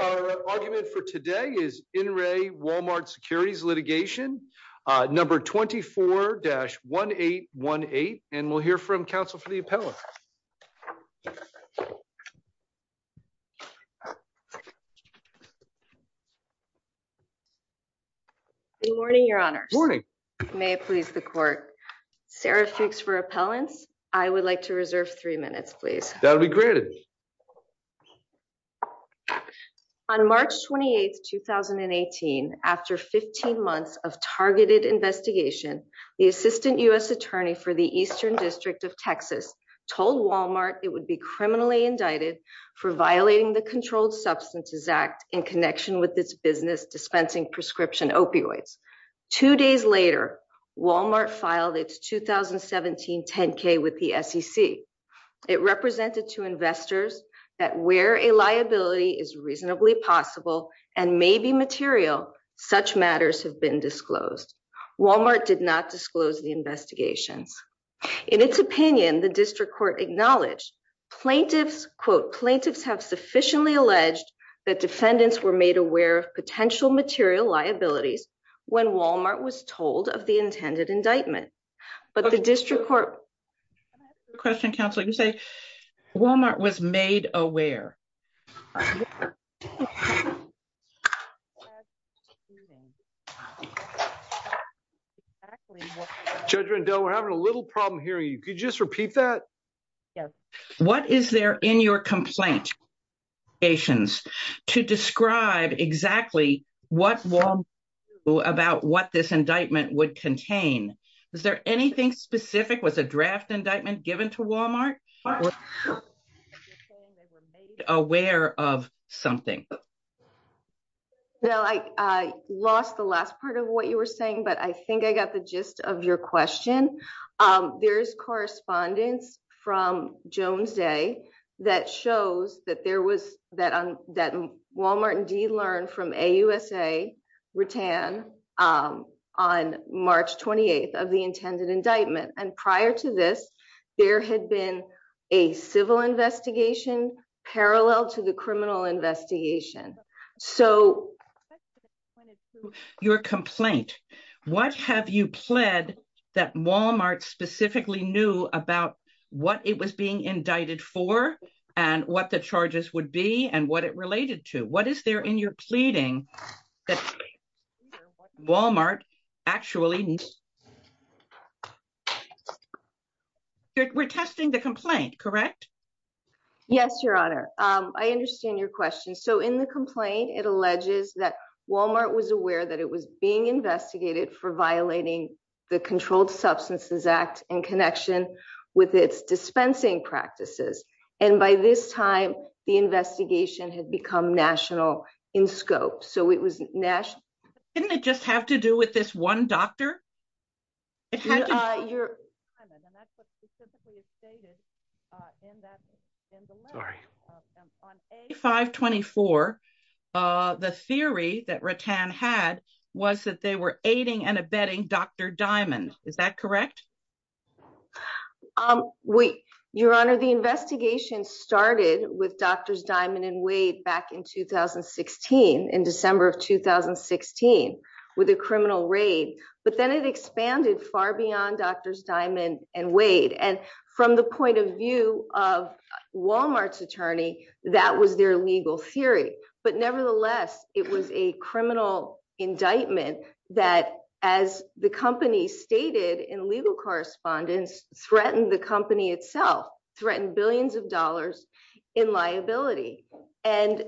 Our argument for today is In Re Walmart Securities Litigation, number 24-1818, and we'll hear from counsel for the appellant. Good morning, Your Honors. May it please the court. Sarah Fuchs for appellants. I would like to reserve three minutes, please. That'll be granted. On March 28, 2018, after 15 months of targeted investigation, the assistant U.S. attorney for the Eastern District of Texas told Walmart it would be criminally indicted for violating the Controlled Substances Act in connection with its business dispensing prescription opioids. Two days later, Walmart filed its 2017 10-K with the SEC. It represented to investors that where a liability is reasonably possible and may be material, such matters have been disclosed. Walmart did not disclose the investigations. In its opinion, the district court acknowledged plaintiffs, quote, plaintiffs have sufficiently alleged that defendants were made aware of potential material liabilities when Walmart was told of the intended indictment. But the district court. Can I ask you a question, counsel? You say Walmart was made aware. Judge Rendell, we're having a little problem hearing you. Could you just repeat that? Yes. What is there in your complaint to describe exactly what about what this indictment would contain? Is there anything specific? Was a draft indictment given to Walmart? Aware of something. I lost the last part of what you were saying, but I think I got the gist of your question. There's correspondence from Jones Day that shows that there was that that Walmart indeed learned from a USA return on March 28th of the intended indictment. And prior to this, there had been a civil investigation parallel to the criminal investigation. So your complaint, what have you pled that Walmart specifically knew about what it was being indicted for and what the charges would be and what it related to? What is there in your pleading that Walmart actually needs? We're testing the complaint, correct? Yes, Your Honor. I understand your question. So in the complaint, it alleges that Walmart was aware that it was being investigated for violating the Controlled Substances Act in connection with its dispensing practices. And by this time, the investigation had become national in scope. So it was national. Didn't it just have to do with this one doctor? Your. And that's what specifically is stated in that. Sorry. On a 524. The theory that Rattan had was that they were aiding and abetting Dr. Diamond. Is that correct? Wait, Your Honor. The investigation started with Drs. Diamond and Wade back in 2016 in December of 2016 with a criminal raid. But then it expanded far beyond Drs. Diamond and Wade. And from the point of view of Walmart's attorney, that was their legal theory. But nevertheless, it was a criminal indictment that, as the company stated in legal correspondence, threatened the company itself, threatened billions of dollars in liability. And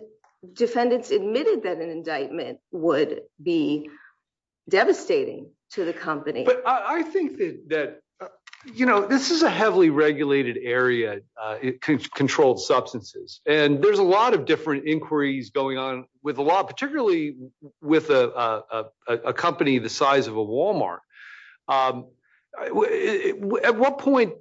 defendants admitted that an indictment would be devastating to the company. But I think that, you know, this is a heavily regulated area. Controlled substances. And there's a lot of different inquiries going on with a lot, particularly with a company the size of a Walmart. At what point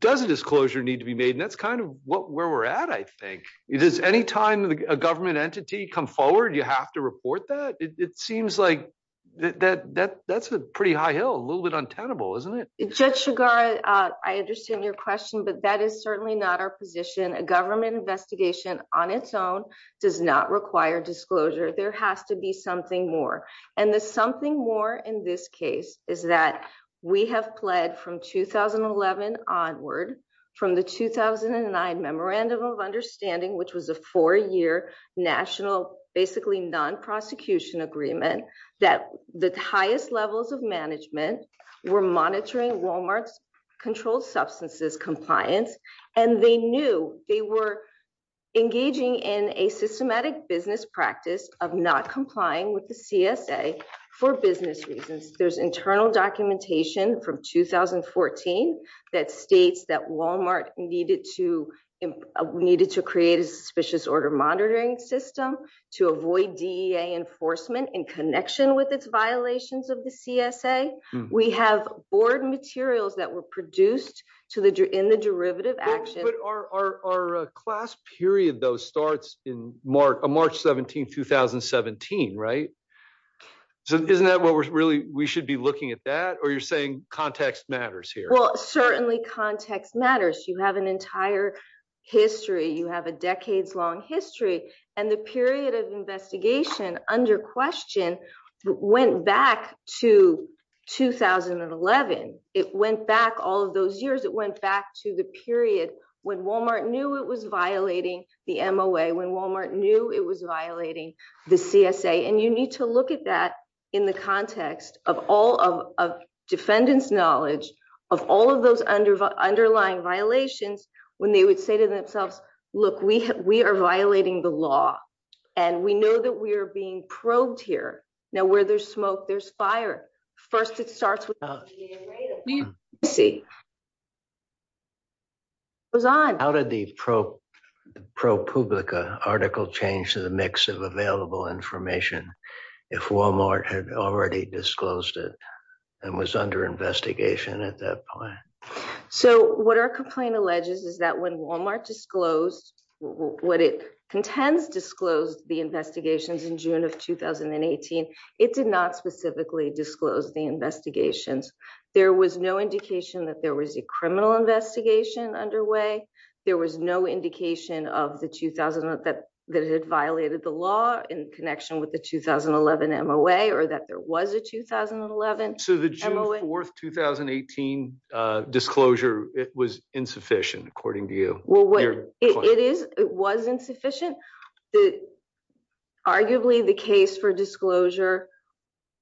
does a disclosure need to be made? And that's kind of where we're at. I think it is any time a government entity come forward. You have to report that. It seems like that that's a pretty high hill, a little bit untenable, isn't it? Judge Chigar, I understand your question, but that is certainly not our position. A government investigation on its own does not require disclosure. There has to be something more. And there's something more in this case is that we have pled from 2011 onward from the 2009 Memorandum of Understanding, which was a four year national basically non prosecution agreement that the highest levels of management were monitoring Walmart's controlled substances compliance. And they knew they were engaging in a systematic business practice of not complying with the CSA for business reasons. There's internal documentation from 2014 that states that Walmart needed to needed to create a suspicious order monitoring system to avoid D.A. enforcement in connection with its violations of the CSA. We have board materials that were produced to the in the derivative action. Our class period, though, starts in March, March 17, 2017. Right. So isn't that what we're really we should be looking at that or you're saying context matters here? Well, certainly context matters. You have an entire history. You have a decades long history. And the period of investigation under question went back to 2011. It went back all of those years. It went back to the period when Walmart knew it was violating the MOA, when Walmart knew it was violating the CSA. And you need to look at that in the context of all of defendants knowledge of all of those under underlying violations when they would say to themselves, look, we we are violating the law and we know that we are being probed here. Now, where there's smoke, there's fire. First, it starts with. See. How did the pro pro public article change to the mix of available information? If Walmart had already disclosed it and was under investigation at that point. So what our complaint alleges is that when Walmart disclosed what it contends disclosed the investigations in June of 2018, it did not specifically disclose the investigations. There was no indication that there was a criminal investigation underway. There was no indication of the 2000 that that had violated the law in connection with the 2011 MOA or that there was a 2011. So the fourth 2018 disclosure, it was insufficient, according to you. Well, what it is, it wasn't sufficient. Arguably, the case for disclosure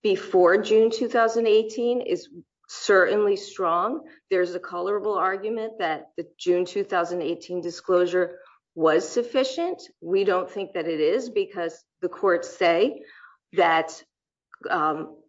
before June 2018 is certainly strong. There's a colorable argument that the June 2018 disclosure was sufficient. We don't think that it is because the courts say that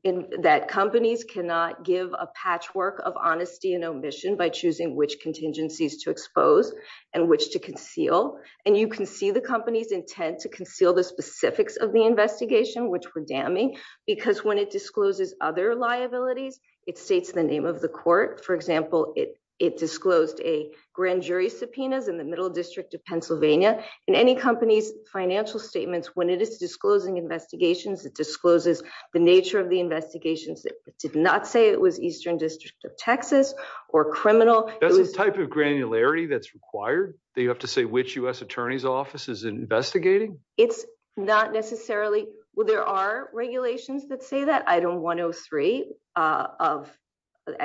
in that companies cannot give a patchwork of honesty and omission by choosing which contingencies to expose and which to conceal. And you can see the company's intent to conceal the specifics of the investigation, which were damning because when it discloses other liabilities, it states the name of the court. For example, it disclosed a grand jury subpoenas in the middle district of Pennsylvania and any company's financial statements when it is disclosing investigations, it discloses the nature of the investigations. It did not say it was Eastern District of Texas or criminal. There's a type of granularity that's required. They have to say which U.S. attorney's office is investigating. It's not necessarily where there are regulations that say that I don't want to three of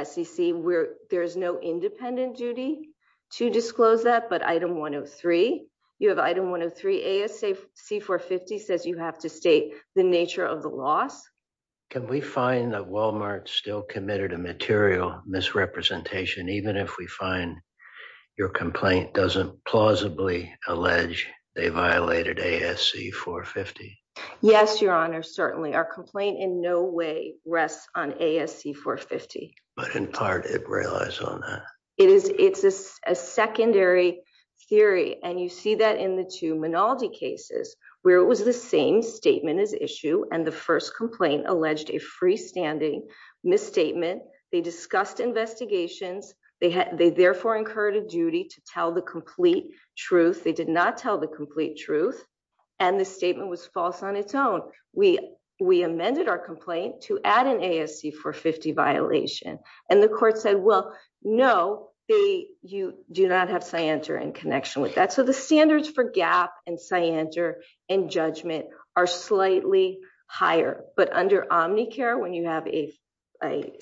SEC where there's no independent duty to disclose that but I don't want to three, you have I don't want to three as a C for 50 says you have to state the nature of the loss. Can we find that Walmart still committed a material misrepresentation even if we find your complaint doesn't plausibly allege they violated a SC for 50. Yes, Your Honor certainly our complaint in no way rests on a SC for 50, but in part it relies on that it is, it's a secondary theory and you see that in the two minority cases, where it was the same statement is issue and the first complaint alleged a freestanding misstatement, they discussed investigations, they had they therefore incurred a duty to tell the complete truth they did not tell the complete truth, and the statement was false on its own. So, we, we amended our complaint to add an ASC for 50 violation, and the court said well, no, they, you do not have cyanter and connection with that so the standards for gap and cyanter and judgment are slightly higher, but under Omnicare when you have a, a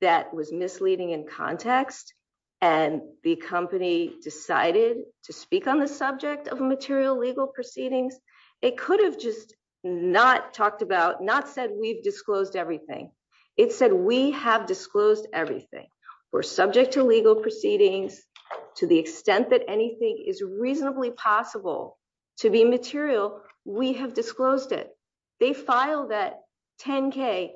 that was misleading in context, and the company decided to speak on the subject of material legal proceedings. It could have just not talked about not said we've disclosed everything. It said we have disclosed everything. We're subject to legal proceedings, to the extent that anything is reasonably possible to be material, we have disclosed it. They filed that 10k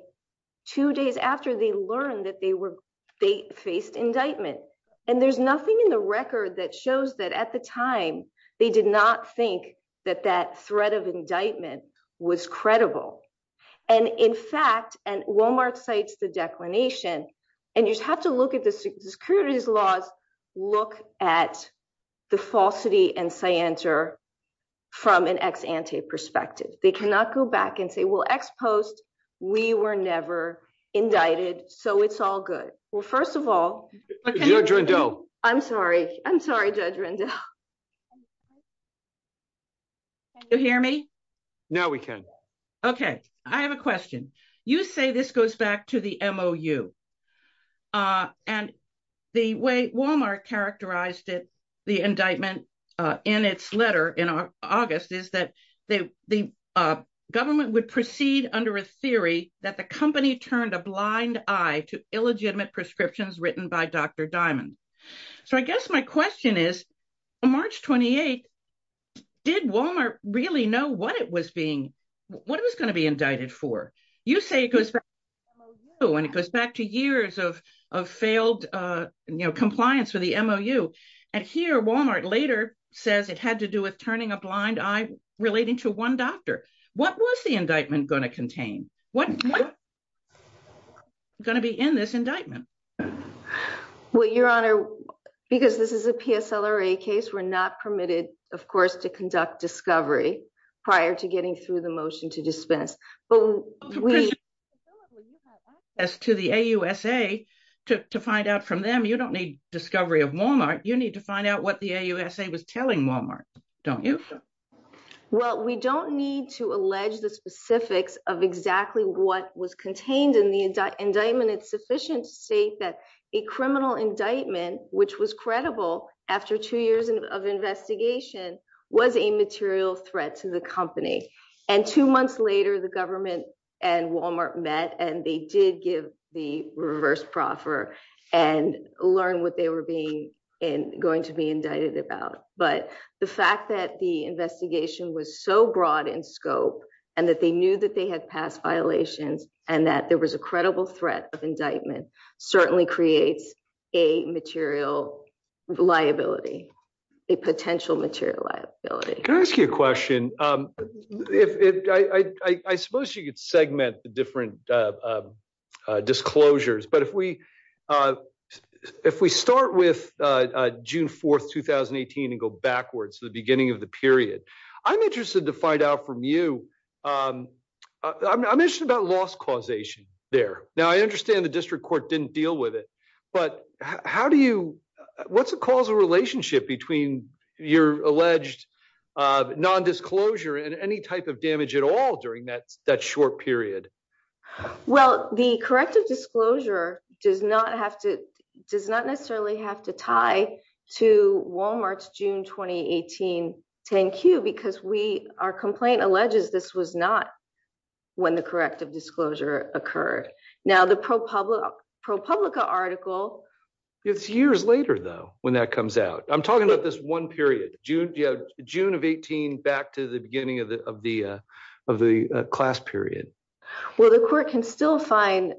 two days after they learned that they were, they faced indictment, and there's nothing in the record that shows that at the time, they did not think that that threat of indictment was credible. And in fact, and Walmart cites the declination, and you have to look at the securities laws, look at the falsity and cyanter from an ex ante perspective, they cannot go back and say well ex post, we were never indicted, so it's all good. Well, first of all, I'm sorry, I'm sorry. My judgment. You hear me. Now we can. Okay, I have a question. You say this goes back to the mo you. And the way Walmart characterized it. The indictment in its letter in August is that they, the government would proceed under a theory that the company turned a blind eye to illegitimate prescriptions written by Dr. Diamond. So I guess my question is, March 28. Did Walmart really know what it was being what it was going to be indicted for you say it goes. And it goes back to years of failed, you know compliance with the mo you. And here Walmart later says it had to do with turning a blind eye, relating to one doctor. What was the indictment going to contain what going to be in this indictment. Well, Your Honor, because this is a PSL or a case we're not permitted, of course to conduct discovery. Prior to getting through the motion to dispense, but we as to the USA, to find out from them you don't need discovery of Walmart, you need to find out what the USA was telling Walmart. Don't you. Well, we don't need to allege the specifics of exactly what was contained in the indictment it's sufficient state that a criminal indictment, which was credible. After two years of investigation was a material threat to the company. And two months later the government and Walmart met and they did give the reverse proffer and learn what they were being in going to be indicted about, but the fact that the investigation was so broad in scope, and that they knew that they had passed violations, and that there was a credible threat of indictment certainly creates a material liability, a potential material liability. Can I ask you a question, if I suppose you could segment the different disclosures but if we, if we start with June 4 2018 and go backwards to the beginning of the period. I'm interested to find out from you. I mentioned about loss causation there. Now I understand the district court didn't deal with it. But how do you. What's the causal relationship between your alleged non disclosure and any type of damage at all during that that short period. Well, the corrective disclosure, does not have to does not necessarily have to tie to Walmart's June 2018. Thank you because we are complaint alleges this was not when the corrective disclosure occurred. Now the pro public pro public article. It's years later though, when that comes out, I'm talking about this one period, June, June of 18 back to the beginning of the, of the, of the class period. Well, the court can still find,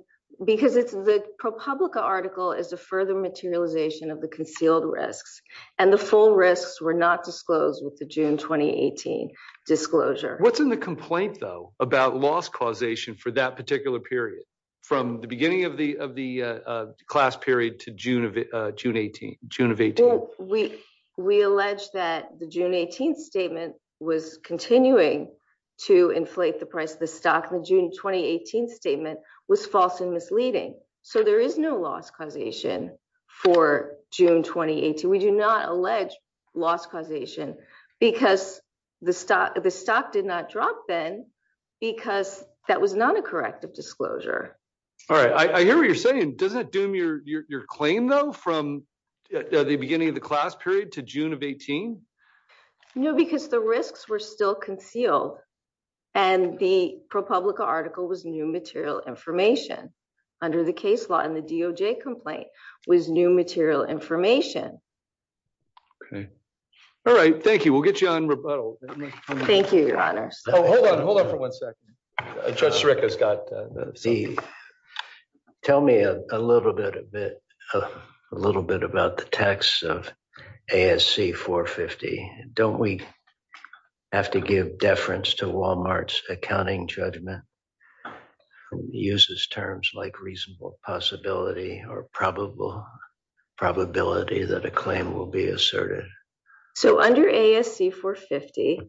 because it's the public article is a further materialization of the concealed risks, and the full risks were not disclosed with the June 2018 disclosure, what's in the complaint though about loss causation for that particular period. From the beginning of the, of the class period to June of June 18, June of 18, we, we allege that the June 18 statement was continuing to inflate the price of the stock and the June 2018 statement was false and misleading. So there is no loss causation for June 2018 we do not allege loss causation, because the stock, the stock did not drop then, because that was not a corrective disclosure. All right, I hear what you're saying doesn't do me or your claim though from the beginning of the class period to June of 18. No, because the risks were still concealed. And the ProPublica article was new material information under the case law and the DOJ complaint was new material information. Okay. All right, thank you. We'll get you on rebuttal. Thank you, Your Honor. Hold on, hold on for one second. Rick has got the. Tell me a little bit a bit, a little bit about the text of ASC 450, don't we have to give deference to Walmart's accounting judgment uses terms like reasonable possibility or probable probability that a claim will be asserted. So under ASC 450,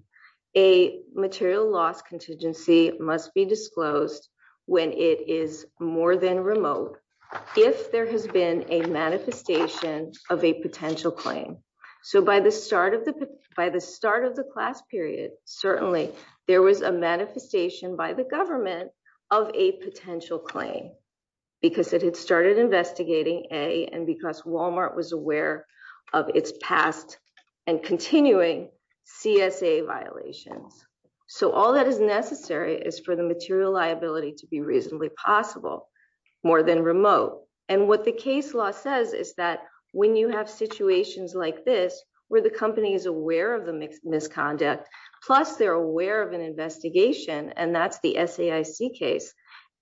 a material loss contingency must be disclosed when it is more than remote. If there has been a manifestation of a potential claim. So by the start of the, by the start of the class period, certainly, there was a manifestation by the government of a potential claim, because it had started investigating a and because Walmart was aware of its and continuing CSA violations. So all that is necessary is for the material liability to be reasonably possible, more than remote, and what the case law says is that when you have situations like this, where the company is aware of the mixed misconduct. Plus they're aware of an investigation and that's the SAIC case.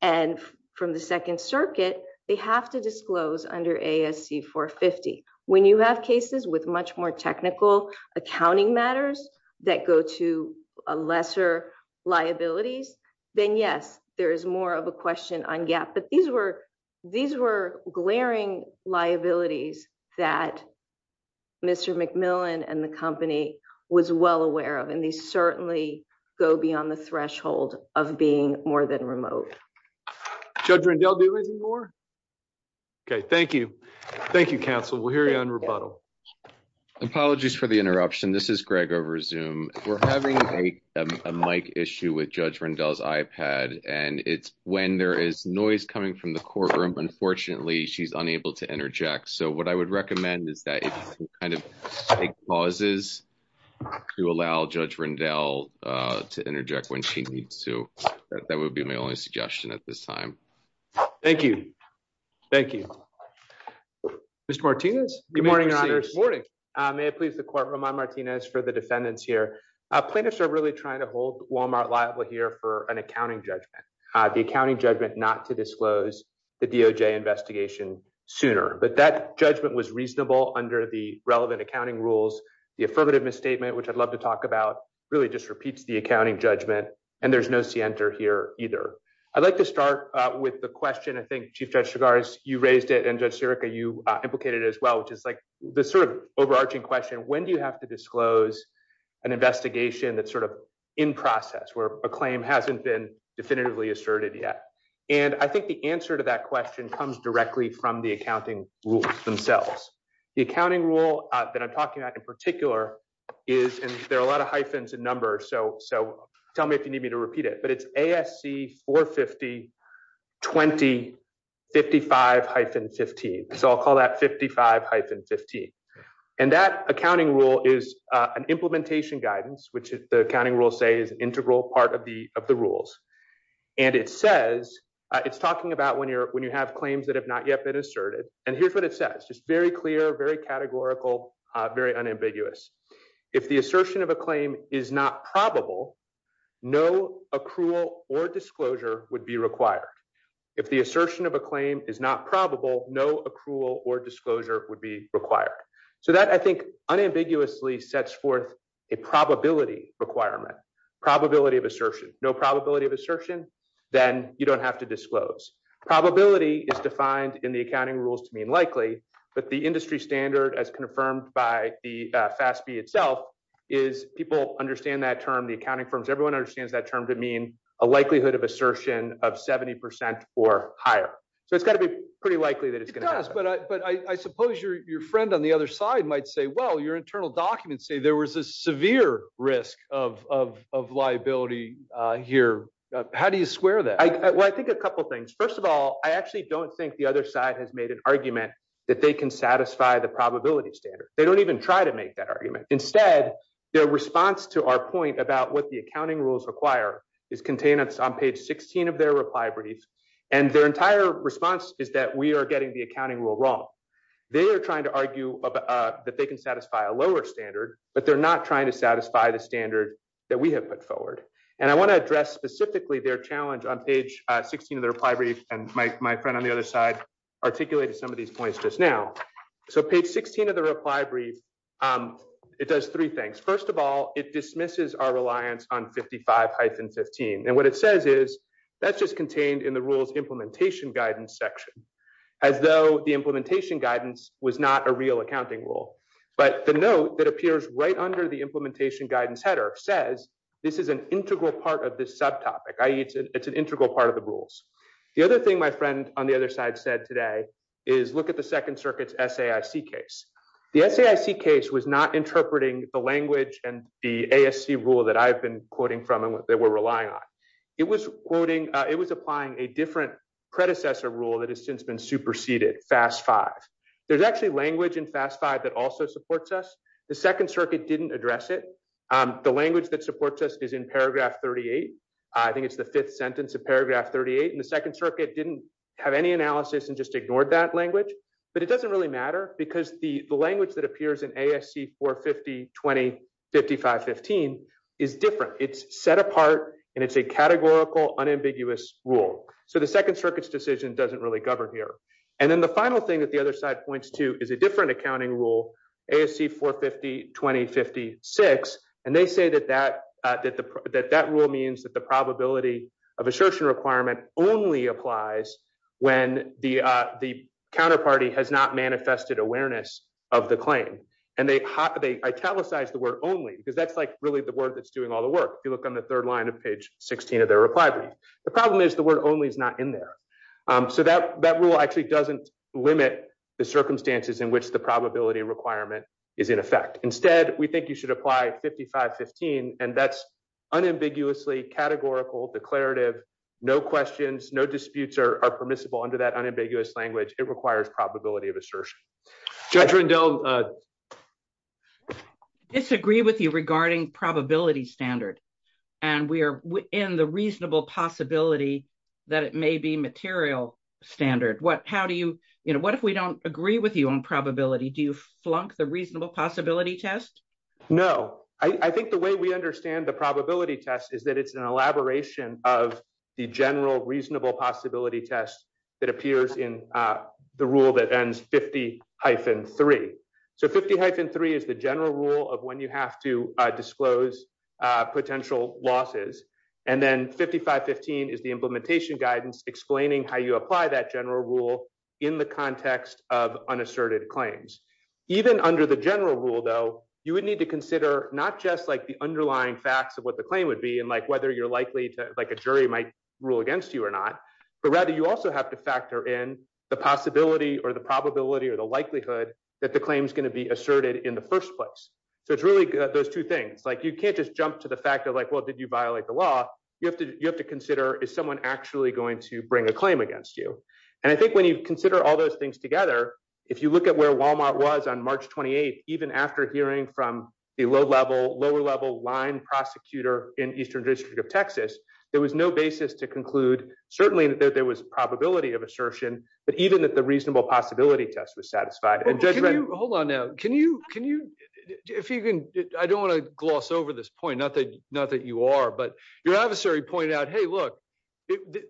And from the Second Circuit, they have to disclose under ASC 450. When you have cases with much more technical accounting matters that go to a lesser liabilities, then yes, there is more of a question on gap but these were, these were glaring liabilities that Mr. McMillan and the company was well aware of and they certainly go beyond the threshold of being more than remote. Judge Rendell, do you have anything more? Okay, thank you. Thank you, counsel. We'll hear you on rebuttal. Apologies for the interruption. This is Greg over Zoom. We're having a mic issue with Judge Rendell's iPad, and it's when there is noise coming from the courtroom, unfortunately, she's unable to interject. So what I would recommend is that you kind of take pauses to allow Judge Rendell to interject when she needs to. That would be my only suggestion at this time. Thank you. Thank you. Mr. Martinez. Good morning, Your Honors. May it please the Court, Roman Martinez for the defendants here. Plaintiffs are really trying to hold Walmart liable here for an accounting judgment. The accounting judgment not to disclose the DOJ investigation sooner, but that judgment was reasonable under the relevant accounting rules. The affirmative misstatement, which I'd love to talk about, really just repeats the accounting judgment, and there's no scienter here either. I'd like to start with the question, I think, Chief Judge Chigars, you raised it, and Judge Sirica, you implicated it as well, which is like the sort of overarching question. When do you have to disclose an investigation that's sort of in process where a claim hasn't been definitively asserted yet? And I think the answer to that question comes directly from the accounting rules themselves. The accounting rule that I'm talking about in particular is, and there are a lot of hyphens and numbers, so tell me if you need me to repeat it, but it's ASC 450-20-55-15. So I'll call that 55-15. And that accounting rule is an implementation guidance, which the accounting rules say is an integral part of the rules. And it says, it's talking about when you have claims that have not yet been asserted, and here's what it says, just very clear, very categorical, very unambiguous. If the assertion of a claim is not probable, no accrual or disclosure would be required. If the assertion of a claim is not probable, no accrual or disclosure would be required. So that, I think, unambiguously sets forth a probability requirement, probability of assertion. No probability of assertion, then you don't have to disclose. Probability is defined in the accounting rules to mean likely, but the industry standard, as confirmed by the FASB itself, is people understand that term. The accounting firms, everyone understands that term to mean a likelihood of assertion of 70% or higher. So it's got to be pretty likely that it's going to happen. But I suppose your friend on the other side might say, well, your internal documents say there was a severe risk of liability here. How do you square that? Well, I think a couple things. First of all, I actually don't think the other side has made an argument that they can satisfy the probability standard. They don't even try to make that argument. Instead, their response to our point about what the accounting rules require is contained on page 16 of their reply brief. And their entire response is that we are getting the accounting rule wrong. They are trying to argue that they can satisfy a lower standard, but they're not trying to satisfy the standard that we have put forward. And I want to address specifically their challenge on page 16 of their reply brief. And my friend on the other side articulated some of these points just now. So page 16 of the reply brief, it does three things. First of all, it dismisses our reliance on 55-15. And what it says is that's just contained in the rules implementation guidance section, as though the implementation guidance was not a real accounting rule. But the note that appears right under the implementation guidance header says this is an integral part of this subtopic, i.e., it's an integral part of the rules. The other thing my friend on the other side said today is look at the Second Circuit's SAIC case. The SAIC case was not interpreting the language and the ASC rule that I've been quoting from and that we're relying on. It was applying a different predecessor rule that has since been superseded, FAS-5. There's actually language in FAS-5 that also supports us. The Second Circuit didn't address it. The language that supports us is in paragraph 38. I think it's the fifth sentence of paragraph 38. And the Second Circuit didn't have any analysis and just ignored that language. But it doesn't really matter because the language that appears in ASC-450-20-55-15 is different. It's set apart and it's a categorical unambiguous rule. So the Second Circuit's decision doesn't really govern here. And then the final thing that the other side points to is a different accounting rule, ASC-450-20-56. And they say that that rule means that the probability of assertion requirement only applies when the counterparty has not manifested awareness of the claim. And they italicize the word only because that's like really the word that's doing all the work. If you look on the third line of page 16 of their reply brief. The problem is the word only is not in there. So that rule actually doesn't limit the circumstances in which the probability requirement is in effect. Instead, we think you should apply 55-15. And that's unambiguously categorical, declarative, no questions, no disputes are permissible under that unambiguous language. It requires probability of assertion. Judge Rendell. I disagree with you regarding probability standard. And we are in the reasonable possibility that it may be material standard. How do you, you know, what if we don't agree with you on probability? Do you flunk the reasonable possibility test? No, I think the way we understand the probability test is that it's an elaboration of the general reasonable possibility test that appears in the rule that ends 50-3. So 50-3 is the general rule of when you have to disclose potential losses. And then 55-15 is the implementation guidance explaining how you apply that general rule in the context of unasserted claims. Even under the general rule, though, you would need to consider not just like the underlying facts of what the claim would be and like whether you're likely to like a jury might rule against you or not. But rather, you also have to factor in the possibility or the probability or the likelihood that the claim is going to be asserted in the first place. So it's really those two things. Like you can't just jump to the fact of like, well, did you violate the law? You have to consider is someone actually going to bring a claim against you? And I think when you consider all those things together, if you look at where Walmart was on March 28th, even after hearing from the low level, lower level line prosecutor in Eastern District of Texas, there was no basis to conclude. Certainly, there was probability of assertion, but even that the reasonable possibility test was satisfied. And hold on now. Can you can you if you can. I don't want to gloss over this point, not that not that you are. But your adversary pointed out, hey, look,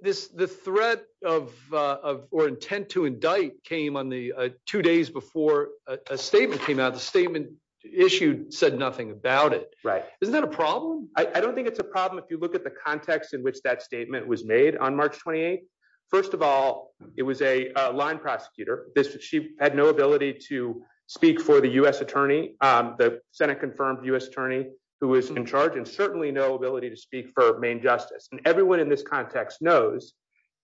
this the threat of or intent to indict came on the two days before a statement came out. The statement issued said nothing about it. Right. Isn't that a problem? I don't think it's a problem. If you look at the context in which that statement was made on March 28th, first of all, it was a line prosecutor. She had no ability to speak for the U.S. attorney. The Senate confirmed U.S. attorney who was in charge and certainly no ability to speak for main justice. And everyone in this context knows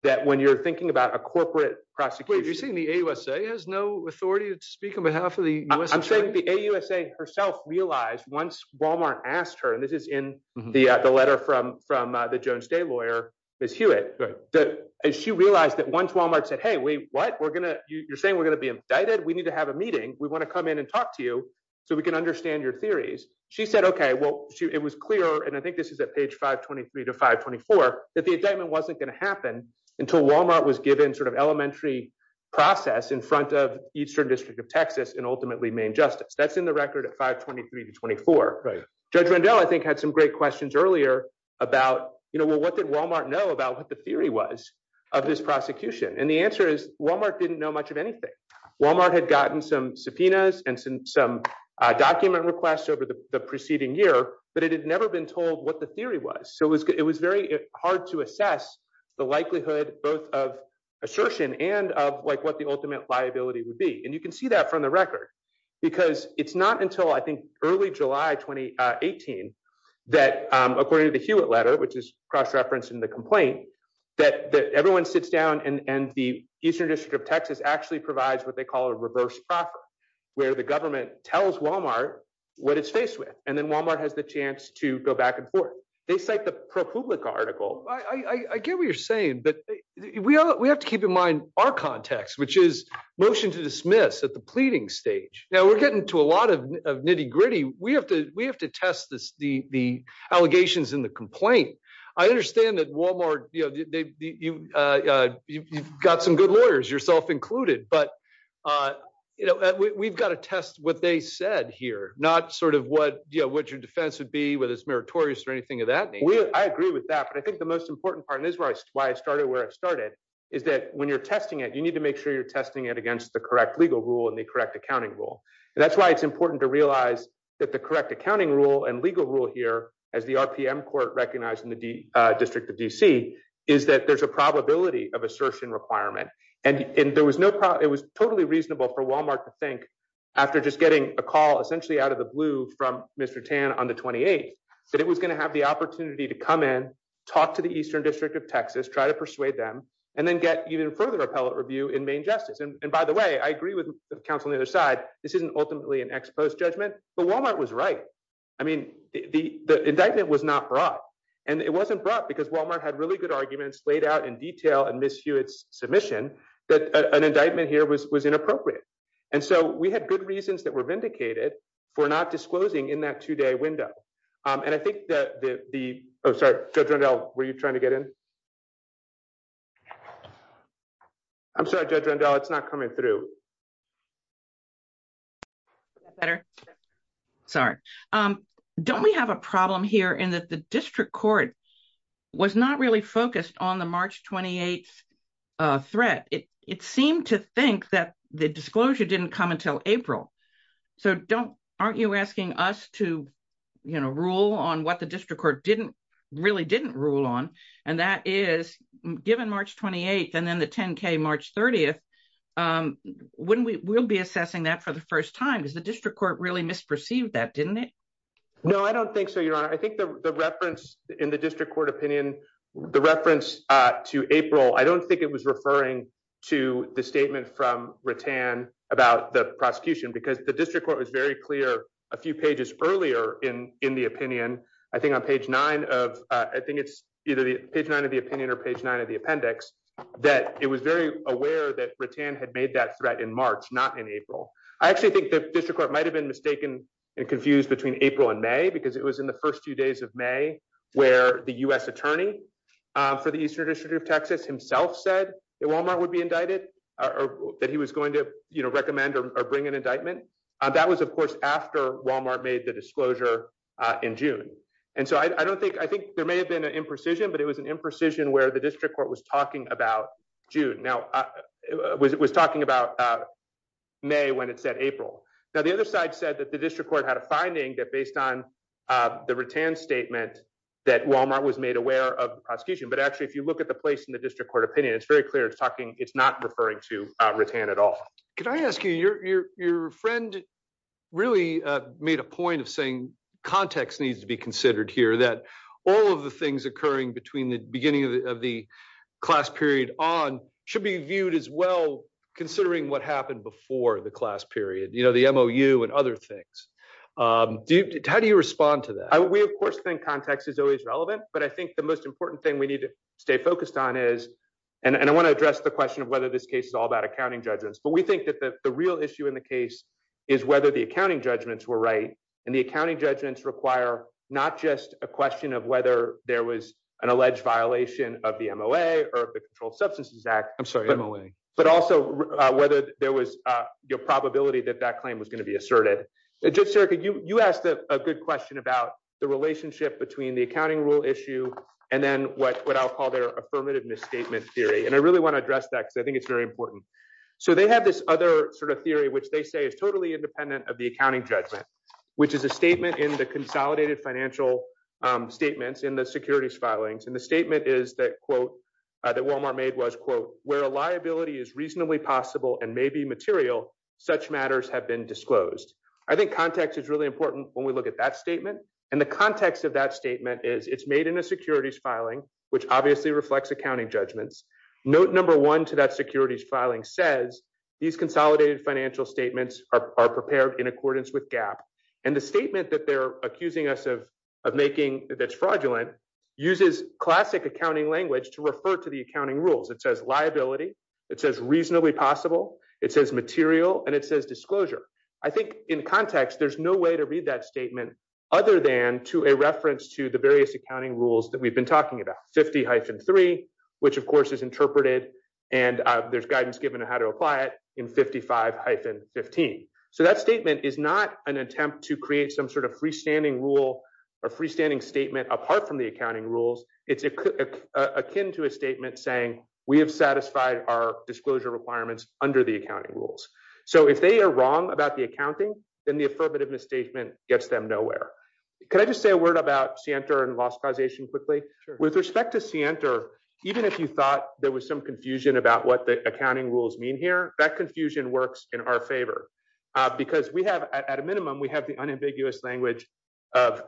that when you're thinking about a corporate prosecution, you're seeing the USA has no authority to speak on behalf of the U.S. She herself realized once Wal-Mart asked her and this is in the letter from from the Jones Day lawyer, Miss Hewitt, that she realized that once Wal-Mart said, hey, wait, what we're going to you're saying we're going to be indicted. We need to have a meeting. We want to come in and talk to you so we can understand your theories. She said, OK, well, it was clear. And I think this is at page five, twenty three to five, twenty four, that the indictment wasn't going to happen until Wal-Mart was given sort of elementary process in front of Eastern District of Texas and ultimately main justice. That's in the record at five, twenty three to twenty four. Judge Rendell, I think, had some great questions earlier about, you know, what did Wal-Mart know about what the theory was of this prosecution? And the answer is Wal-Mart didn't know much of anything. Wal-Mart had gotten some subpoenas and some document requests over the preceding year, but it had never been told what the theory was. So it was it was very hard to assess the likelihood both of assertion and of like what the ultimate liability would be. And you can see that from the record, because it's not until I think early July twenty eighteen that according to the Hewitt letter, which is cross-referenced in the complaint, that everyone sits down and the Eastern District of Texas actually provides what they call a reverse proc, where the government tells Wal-Mart what it's faced with. And then Wal-Mart has the chance to go back and forth. They cite the ProPublica article. I get what you're saying, but we have to keep in mind our context, which is motion to dismiss at the pleading stage. Now we're getting to a lot of nitty gritty. We have to we have to test this. The the allegations in the complaint. I understand that Wal-Mart, you know, you've got some good lawyers, yourself included. But, you know, we've got to test what they said here, not sort of what you know, what your defense would be, whether it's meritorious or anything of that. I agree with that. But I think the most important part is why I started where it started, is that when you're testing it, you need to make sure you're testing it against the correct legal rule and the correct accounting rule. And that's why it's important to realize that the correct accounting rule and legal rule here, as the RPM court recognized in the District of D.C., is that there's a probability of assertion requirement. And there was no it was totally reasonable for Wal-Mart to think after just getting a call essentially out of the blue from Mr. Tan on the 28th that it was going to have the opportunity to come in, talk to the eastern district of Texas, try to persuade them and then get even further appellate review in main justice. And by the way, I agree with the counsel on the other side. This isn't ultimately an ex post judgment. But Wal-Mart was right. I mean, the indictment was not brought and it wasn't brought because Wal-Mart had really good arguments laid out in detail. And Miss Hewitt's submission that an indictment here was was inappropriate. And so we had good reasons that were vindicated for not disclosing in that two day window. And I think that the judge Randall, were you trying to get in? I'm sorry, Judge Randall, it's not coming through. Better. Sorry. Don't we have a problem here in that the district court was not really focused on the March 28th threat. It seemed to think that the disclosure didn't come until April. So don't aren't you asking us to rule on what the district court didn't really didn't rule on? And that is given March 28th and then the 10K March 30th. When we will be assessing that for the first time is the district court really misperceived that, didn't it? No, I don't think so, Your Honor. I think the reference in the district court opinion, the reference to April. I don't think it was referring to the statement from Rattan about the prosecution, because the district court was very clear a few pages earlier in in the opinion. I think on page nine of I think it's either the page nine of the opinion or page nine of the appendix that it was very aware that Rattan had made that threat in March, not in April. I actually think the district court might have been mistaken and confused between April and May, because it was in the first few days of May where the U.S. attorney for the Eastern District of Texas himself said that Walmart would be indicted or that he was going to recommend or bring an indictment. That was, of course, after Walmart made the disclosure in June. And so I don't think I think there may have been an imprecision, but it was an imprecision where the district court was talking about June. Now, it was talking about May when it said April. Now, the other side said that the district court had a finding that based on the Rattan statement that Walmart was made aware of the prosecution. But actually, if you look at the place in the district court opinion, it's very clear it's talking. It's not referring to Rattan at all. Can I ask you, your friend really made a point of saying context needs to be considered here, that all of the things occurring between the beginning of the class period on should be viewed as well. Considering what happened before the class period, you know, the MOU and other things. How do you respond to that? We, of course, think context is always relevant. But I think the most important thing we need to stay focused on is and I want to address the question of whether this case is all about accounting judgments. But we think that the real issue in the case is whether the accounting judgments were right. And the accounting judgments require not just a question of whether there was an alleged violation of the MOA or the Controlled Substances Act. I'm sorry, Emily, but also whether there was a probability that that claim was going to be asserted. Judge Sereca, you asked a good question about the relationship between the accounting rule issue and then what I'll call their affirmative misstatement theory. And I really want to address that because I think it's very important. So they have this other sort of theory which they say is totally independent of the accounting judgment, which is a statement in the consolidated financial statements in the securities filings. And the statement is that, quote, that Walmart made was, quote, where a liability is reasonably possible and may be material, such matters have been disclosed. I think context is really important when we look at that statement. And the context of that statement is it's made in a securities filing, which obviously reflects accounting judgments. Note number one to that securities filing says these consolidated financial statements are prepared in accordance with GAAP. And the statement that they're accusing us of making that's fraudulent uses classic accounting language to refer to the accounting rules. It says liability. It says reasonably possible. It says material. And it says disclosure. I think in context, there's no way to read that statement other than to a reference to the various accounting rules that we've been talking about. 50-3, which, of course, is interpreted and there's guidance given on how to apply it in 55-15. So that statement is not an attempt to create some sort of freestanding rule or freestanding statement apart from the accounting rules. It's akin to a statement saying we have satisfied our disclosure requirements under the accounting rules. So if they are wrong about the accounting, then the affirmative misstatement gets them nowhere. Can I just say a word about Sienter and loss causation quickly? With respect to Sienter, even if you thought there was some confusion about what the accounting rules mean here, that confusion works in our favor. Because we have at a minimum, we have the unambiguous language of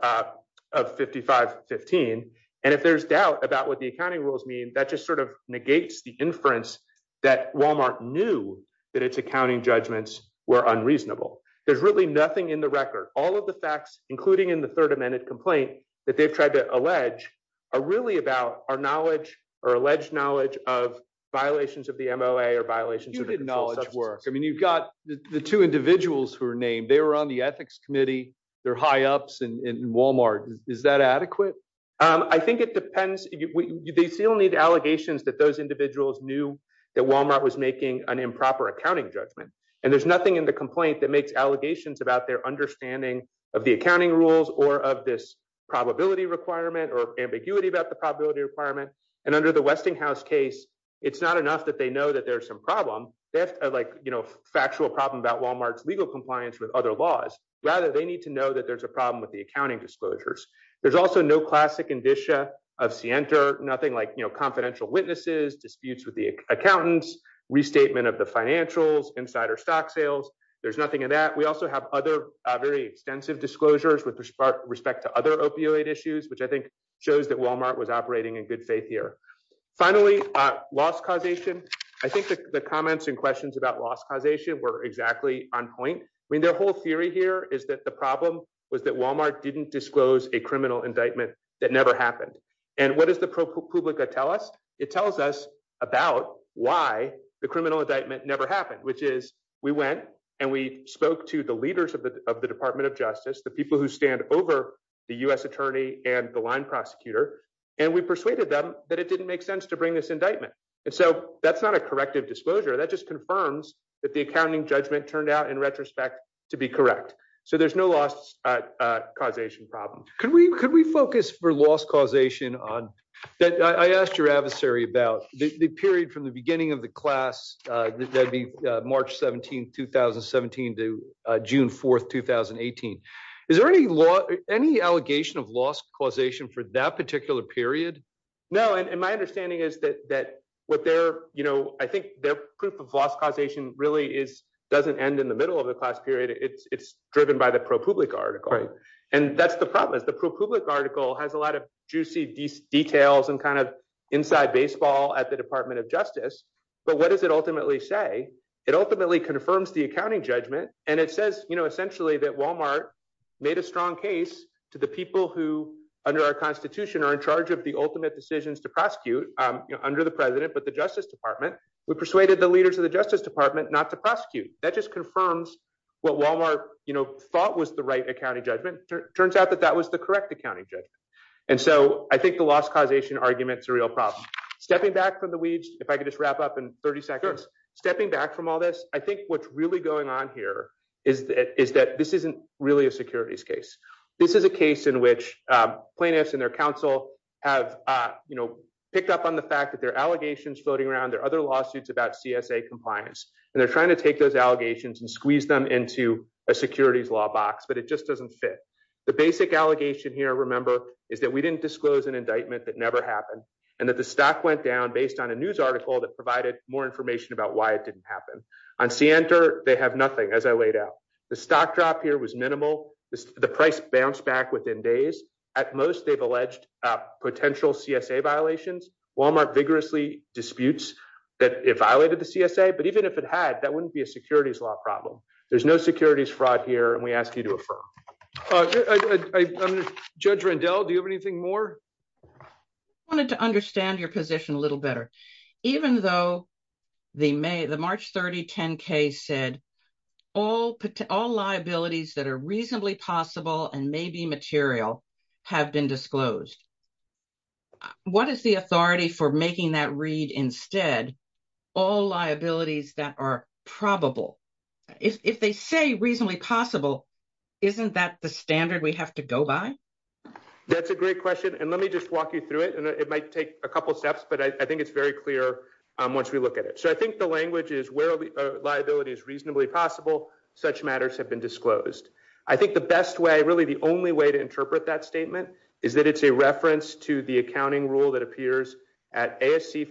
55-15. And if there's doubt about what the accounting rules mean, that just sort of negates the inference that Walmart knew that its accounting judgments were unreasonable. There's really nothing in the record. All of the facts, including in the third amended complaint that they've tried to allege, are really about our knowledge or alleged knowledge of violations of the MOA or violations of the consumer subsystems. You did knowledge work. I mean, you've got the two individuals who are named. They were on the ethics committee. They're high ups in Walmart. Is that adequate? I think it depends. They still need allegations that those individuals knew that Walmart was making an improper accounting judgment. And there's nothing in the complaint that makes allegations about their understanding of the accounting rules or of this probability requirement or ambiguity about the probability requirement. And under the Westinghouse case, it's not enough that they know that there's some problem. They have a factual problem about Walmart's legal compliance with other laws. Rather, they need to know that there's a problem with the accounting disclosures. There's also no classic indicia of Sienter, nothing like confidential witnesses, disputes with the accountants, restatement of the financials, insider stock sales. There's nothing in that. We also have other very extensive disclosures with respect to other opioid issues, which I think shows that Walmart was operating in good faith here. Finally, loss causation. I think the comments and questions about loss causation were exactly on point. I mean, their whole theory here is that the problem was that Walmart didn't disclose a criminal indictment that never happened. And what does the ProPublica tell us? It tells us about why the criminal indictment never happened, which is we went and we spoke to the leaders of the Department of Justice, the people who stand over the U.S. attorney and the line prosecutor, and we persuaded them that it didn't make sense to bring this indictment. And so that's not a corrective disclosure. That just confirms that the accounting judgment turned out, in retrospect, to be correct. So there's no loss causation problem. Could we focus for loss causation on – I asked your adversary about the period from the beginning of the class, that'd be March 17, 2017, to June 4, 2018. Is there any allegation of loss causation for that particular period? No, and my understanding is that I think their proof of loss causation really doesn't end in the middle of the class period. It's driven by the ProPublica article, and that's the problem. The ProPublica article has a lot of juicy details and kind of inside baseball at the Department of Justice, but what does it ultimately say? It ultimately confirms the accounting judgment, and it says essentially that Walmart made a strong case to the people who, under our Constitution, are in charge of the ultimate decisions to prosecute under the president but the Justice Department. We persuaded the leaders of the Justice Department not to prosecute. That just confirms what Walmart thought was the right accounting judgment. It turns out that that was the correct accounting judgment, and so I think the loss causation argument's a real problem. Stepping back from the weeds, if I could just wrap up in 30 seconds. Stepping back from all this, I think what's really going on here is that this isn't really a securities case. This is a case in which plaintiffs and their counsel have picked up on the fact that there are allegations floating around. There are other lawsuits about CSA compliance, and they're trying to take those allegations and squeeze them into a securities law box, but it just doesn't fit. The basic allegation here, remember, is that we didn't disclose an indictment that never happened and that the stock went down based on a news article that provided more information about why it didn't happen. On Center, they have nothing, as I laid out. The stock drop here was minimal. The price bounced back within days. At most, they've alleged potential CSA violations. Walmart vigorously disputes that it violated the CSA, but even if it had, that wouldn't be a securities law problem. There's no securities fraud here, and we ask you to affirm. Judge Rendell, do you have anything more? I wanted to understand your position a little better. Even though the March 3010 case said all liabilities that are reasonably possible and may be material have been disclosed, what is the authority for making that read instead all liabilities that are probable? If they say reasonably possible, isn't that the standard we have to go by? That's a great question, and let me just walk you through it. It might take a couple steps, but I think it's very clear once we look at it. So I think the language is where liability is reasonably possible, such matters have been disclosed. I think the best way, really the only way, to interpret that statement is that it's a reference to the accounting rule that appears at ASC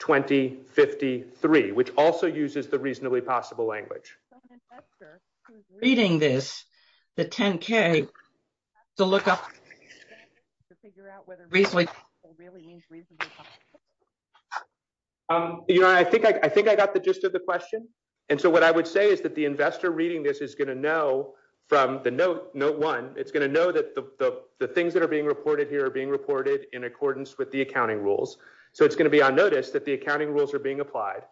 450-2053, which also uses the reasonably possible language. So an investor who's reading this, the 10-K, has to look up to figure out whether reasonably possible really means reasonably possible. I think I got the gist of the question. And so what I would say is that the investor reading this is going to know from the note one, it's going to know that the things that are being reported here are being reported in accordance with the accounting rules. So it's going to be on notice that the accounting rules are being applied.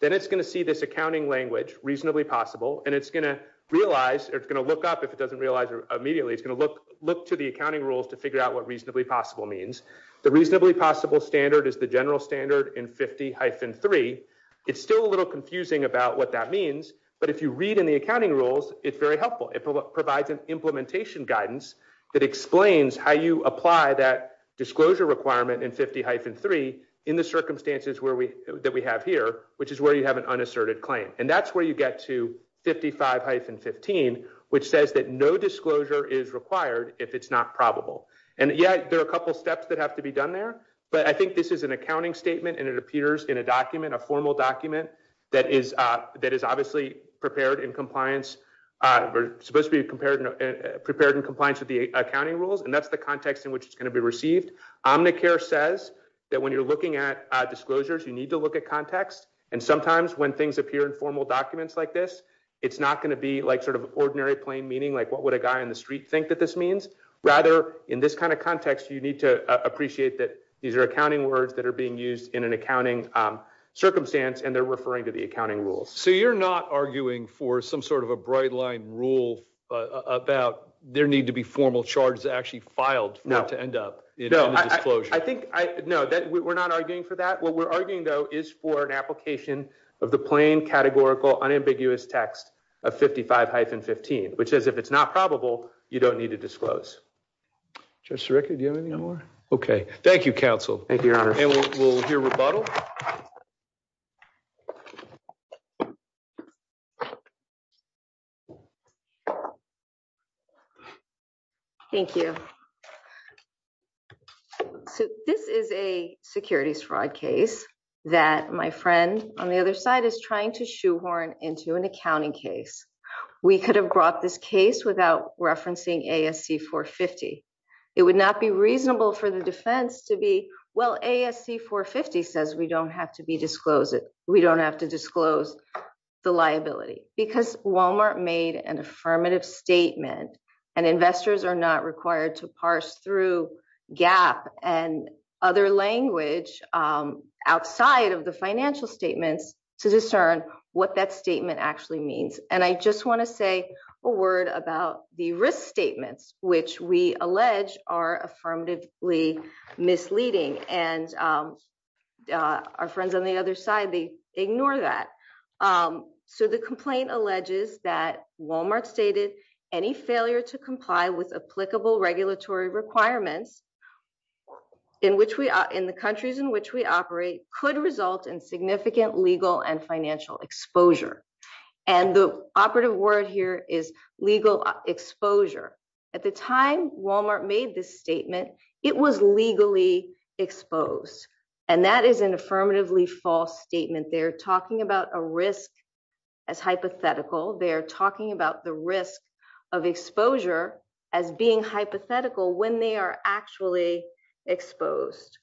Then it's going to see this accounting language, reasonably possible, and it's going to realize, or it's going to look up if it doesn't realize immediately, it's going to look to the accounting rules to figure out what reasonably possible means. The reasonably possible standard is the general standard in 50-3. It's still a little confusing about what that means, but if you read in the accounting rules, it's very helpful. It provides an implementation guidance that explains how you apply that disclosure requirement in 50-3 in the circumstances that we have here, which is where you have an unasserted claim. And that's where you get to 55-15, which says that no disclosure is required if it's not probable. And, yeah, there are a couple steps that have to be done there, but I think this is an accounting statement, and it appears in a document, a formal document that is obviously prepared in compliance. We're supposed to be prepared in compliance with the accounting rules, and that's the context in which it's going to be received. Omnicare says that when you're looking at disclosures, you need to look at context, and sometimes when things appear in formal documents like this, it's not going to be like sort of ordinary plain meaning, like what would a guy on the street think that this means. Rather, in this kind of context, you need to appreciate that these are accounting words that are being used in an accounting circumstance, and they're referring to the accounting rules. So you're not arguing for some sort of a bright-line rule about there need to be formal charges actually filed for it to end up in a disclosure? No, we're not arguing for that. What we're arguing, though, is for an application of the plain, categorical, unambiguous text of 55-15, which says if it's not probable, you don't need to disclose. Judge Sirica, do you have anything more? Okay. Thank you, counsel. Thank you, Your Honor. And we'll hear rebuttal. Thank you. So this is a securities fraud case that my friend on the other side is trying to shoehorn into an accounting case. We could have brought this case without referencing ASC 450. It would not be reasonable for the defense to be, well, ASC 450 says we don't have to disclose it. We don't have to disclose the liability. Because Walmart made an affirmative statement, and investors are not required to parse through GAAP and other language outside of the financial statements to discern what that statement actually means. And I just want to say a word about the risk statements, which we allege are affirmatively misleading. And our friends on the other side, they ignore that. So the complaint alleges that Walmart stated any failure to comply with applicable regulatory requirements in the countries in which we operate could result in significant legal and financial exposure. And the operative word here is legal exposure. At the time Walmart made this statement, it was legally exposed. And that is an affirmatively false statement. They're talking about a risk as hypothetical. They're talking about the risk of exposure as being hypothetical when they are actually exposed.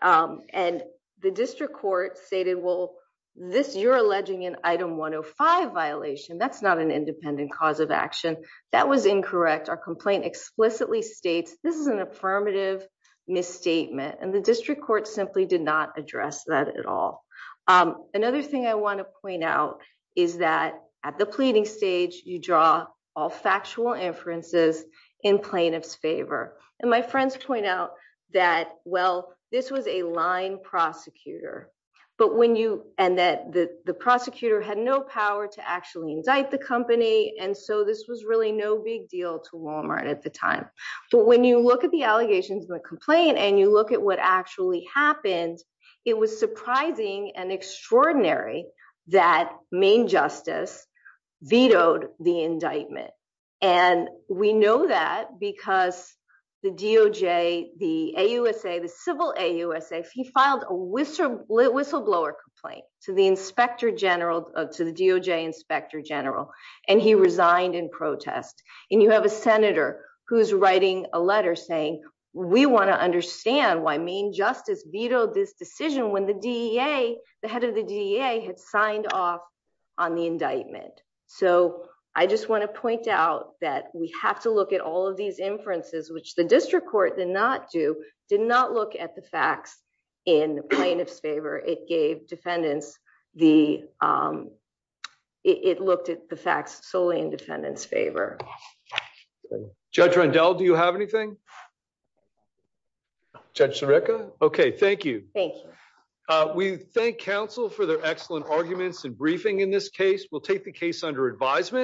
And the district court stated, well, this you're alleging an item 105 violation. That's not an independent cause of action. That was incorrect. Our complaint explicitly states this is an affirmative misstatement. And the district court simply did not address that at all. Another thing I want to point out is that at the pleading stage, you draw all factual inferences in plaintiff's favor. And my friends point out that, well, this was a line prosecutor. But when you and that the prosecutor had no power to actually indict the company. And so this was really no big deal to Walmart at the time. But when you look at the allegations in the complaint and you look at what actually happened, it was surprising and extraordinary that main justice vetoed the indictment. And we know that because the DOJ, the AUSA, the civil AUSA, he filed a whistleblower complaint to the inspector general to the DOJ inspector general. And he resigned in protest. And you have a senator who's writing a letter saying we want to understand why main justice vetoed this decision when the DEA, the head of the DEA, had signed off on the indictment. So I just want to point out that we have to look at all of these inferences, which the district court did not do, did not look at the facts in plaintiff's favor. It gave defendants the it looked at the facts solely in defendant's favor. Judge Randall, do you have anything? Judge Seneca. OK, thank you. Thank you. We thank counsel for their excellent arguments and briefing in this case. We'll take the case under advisement.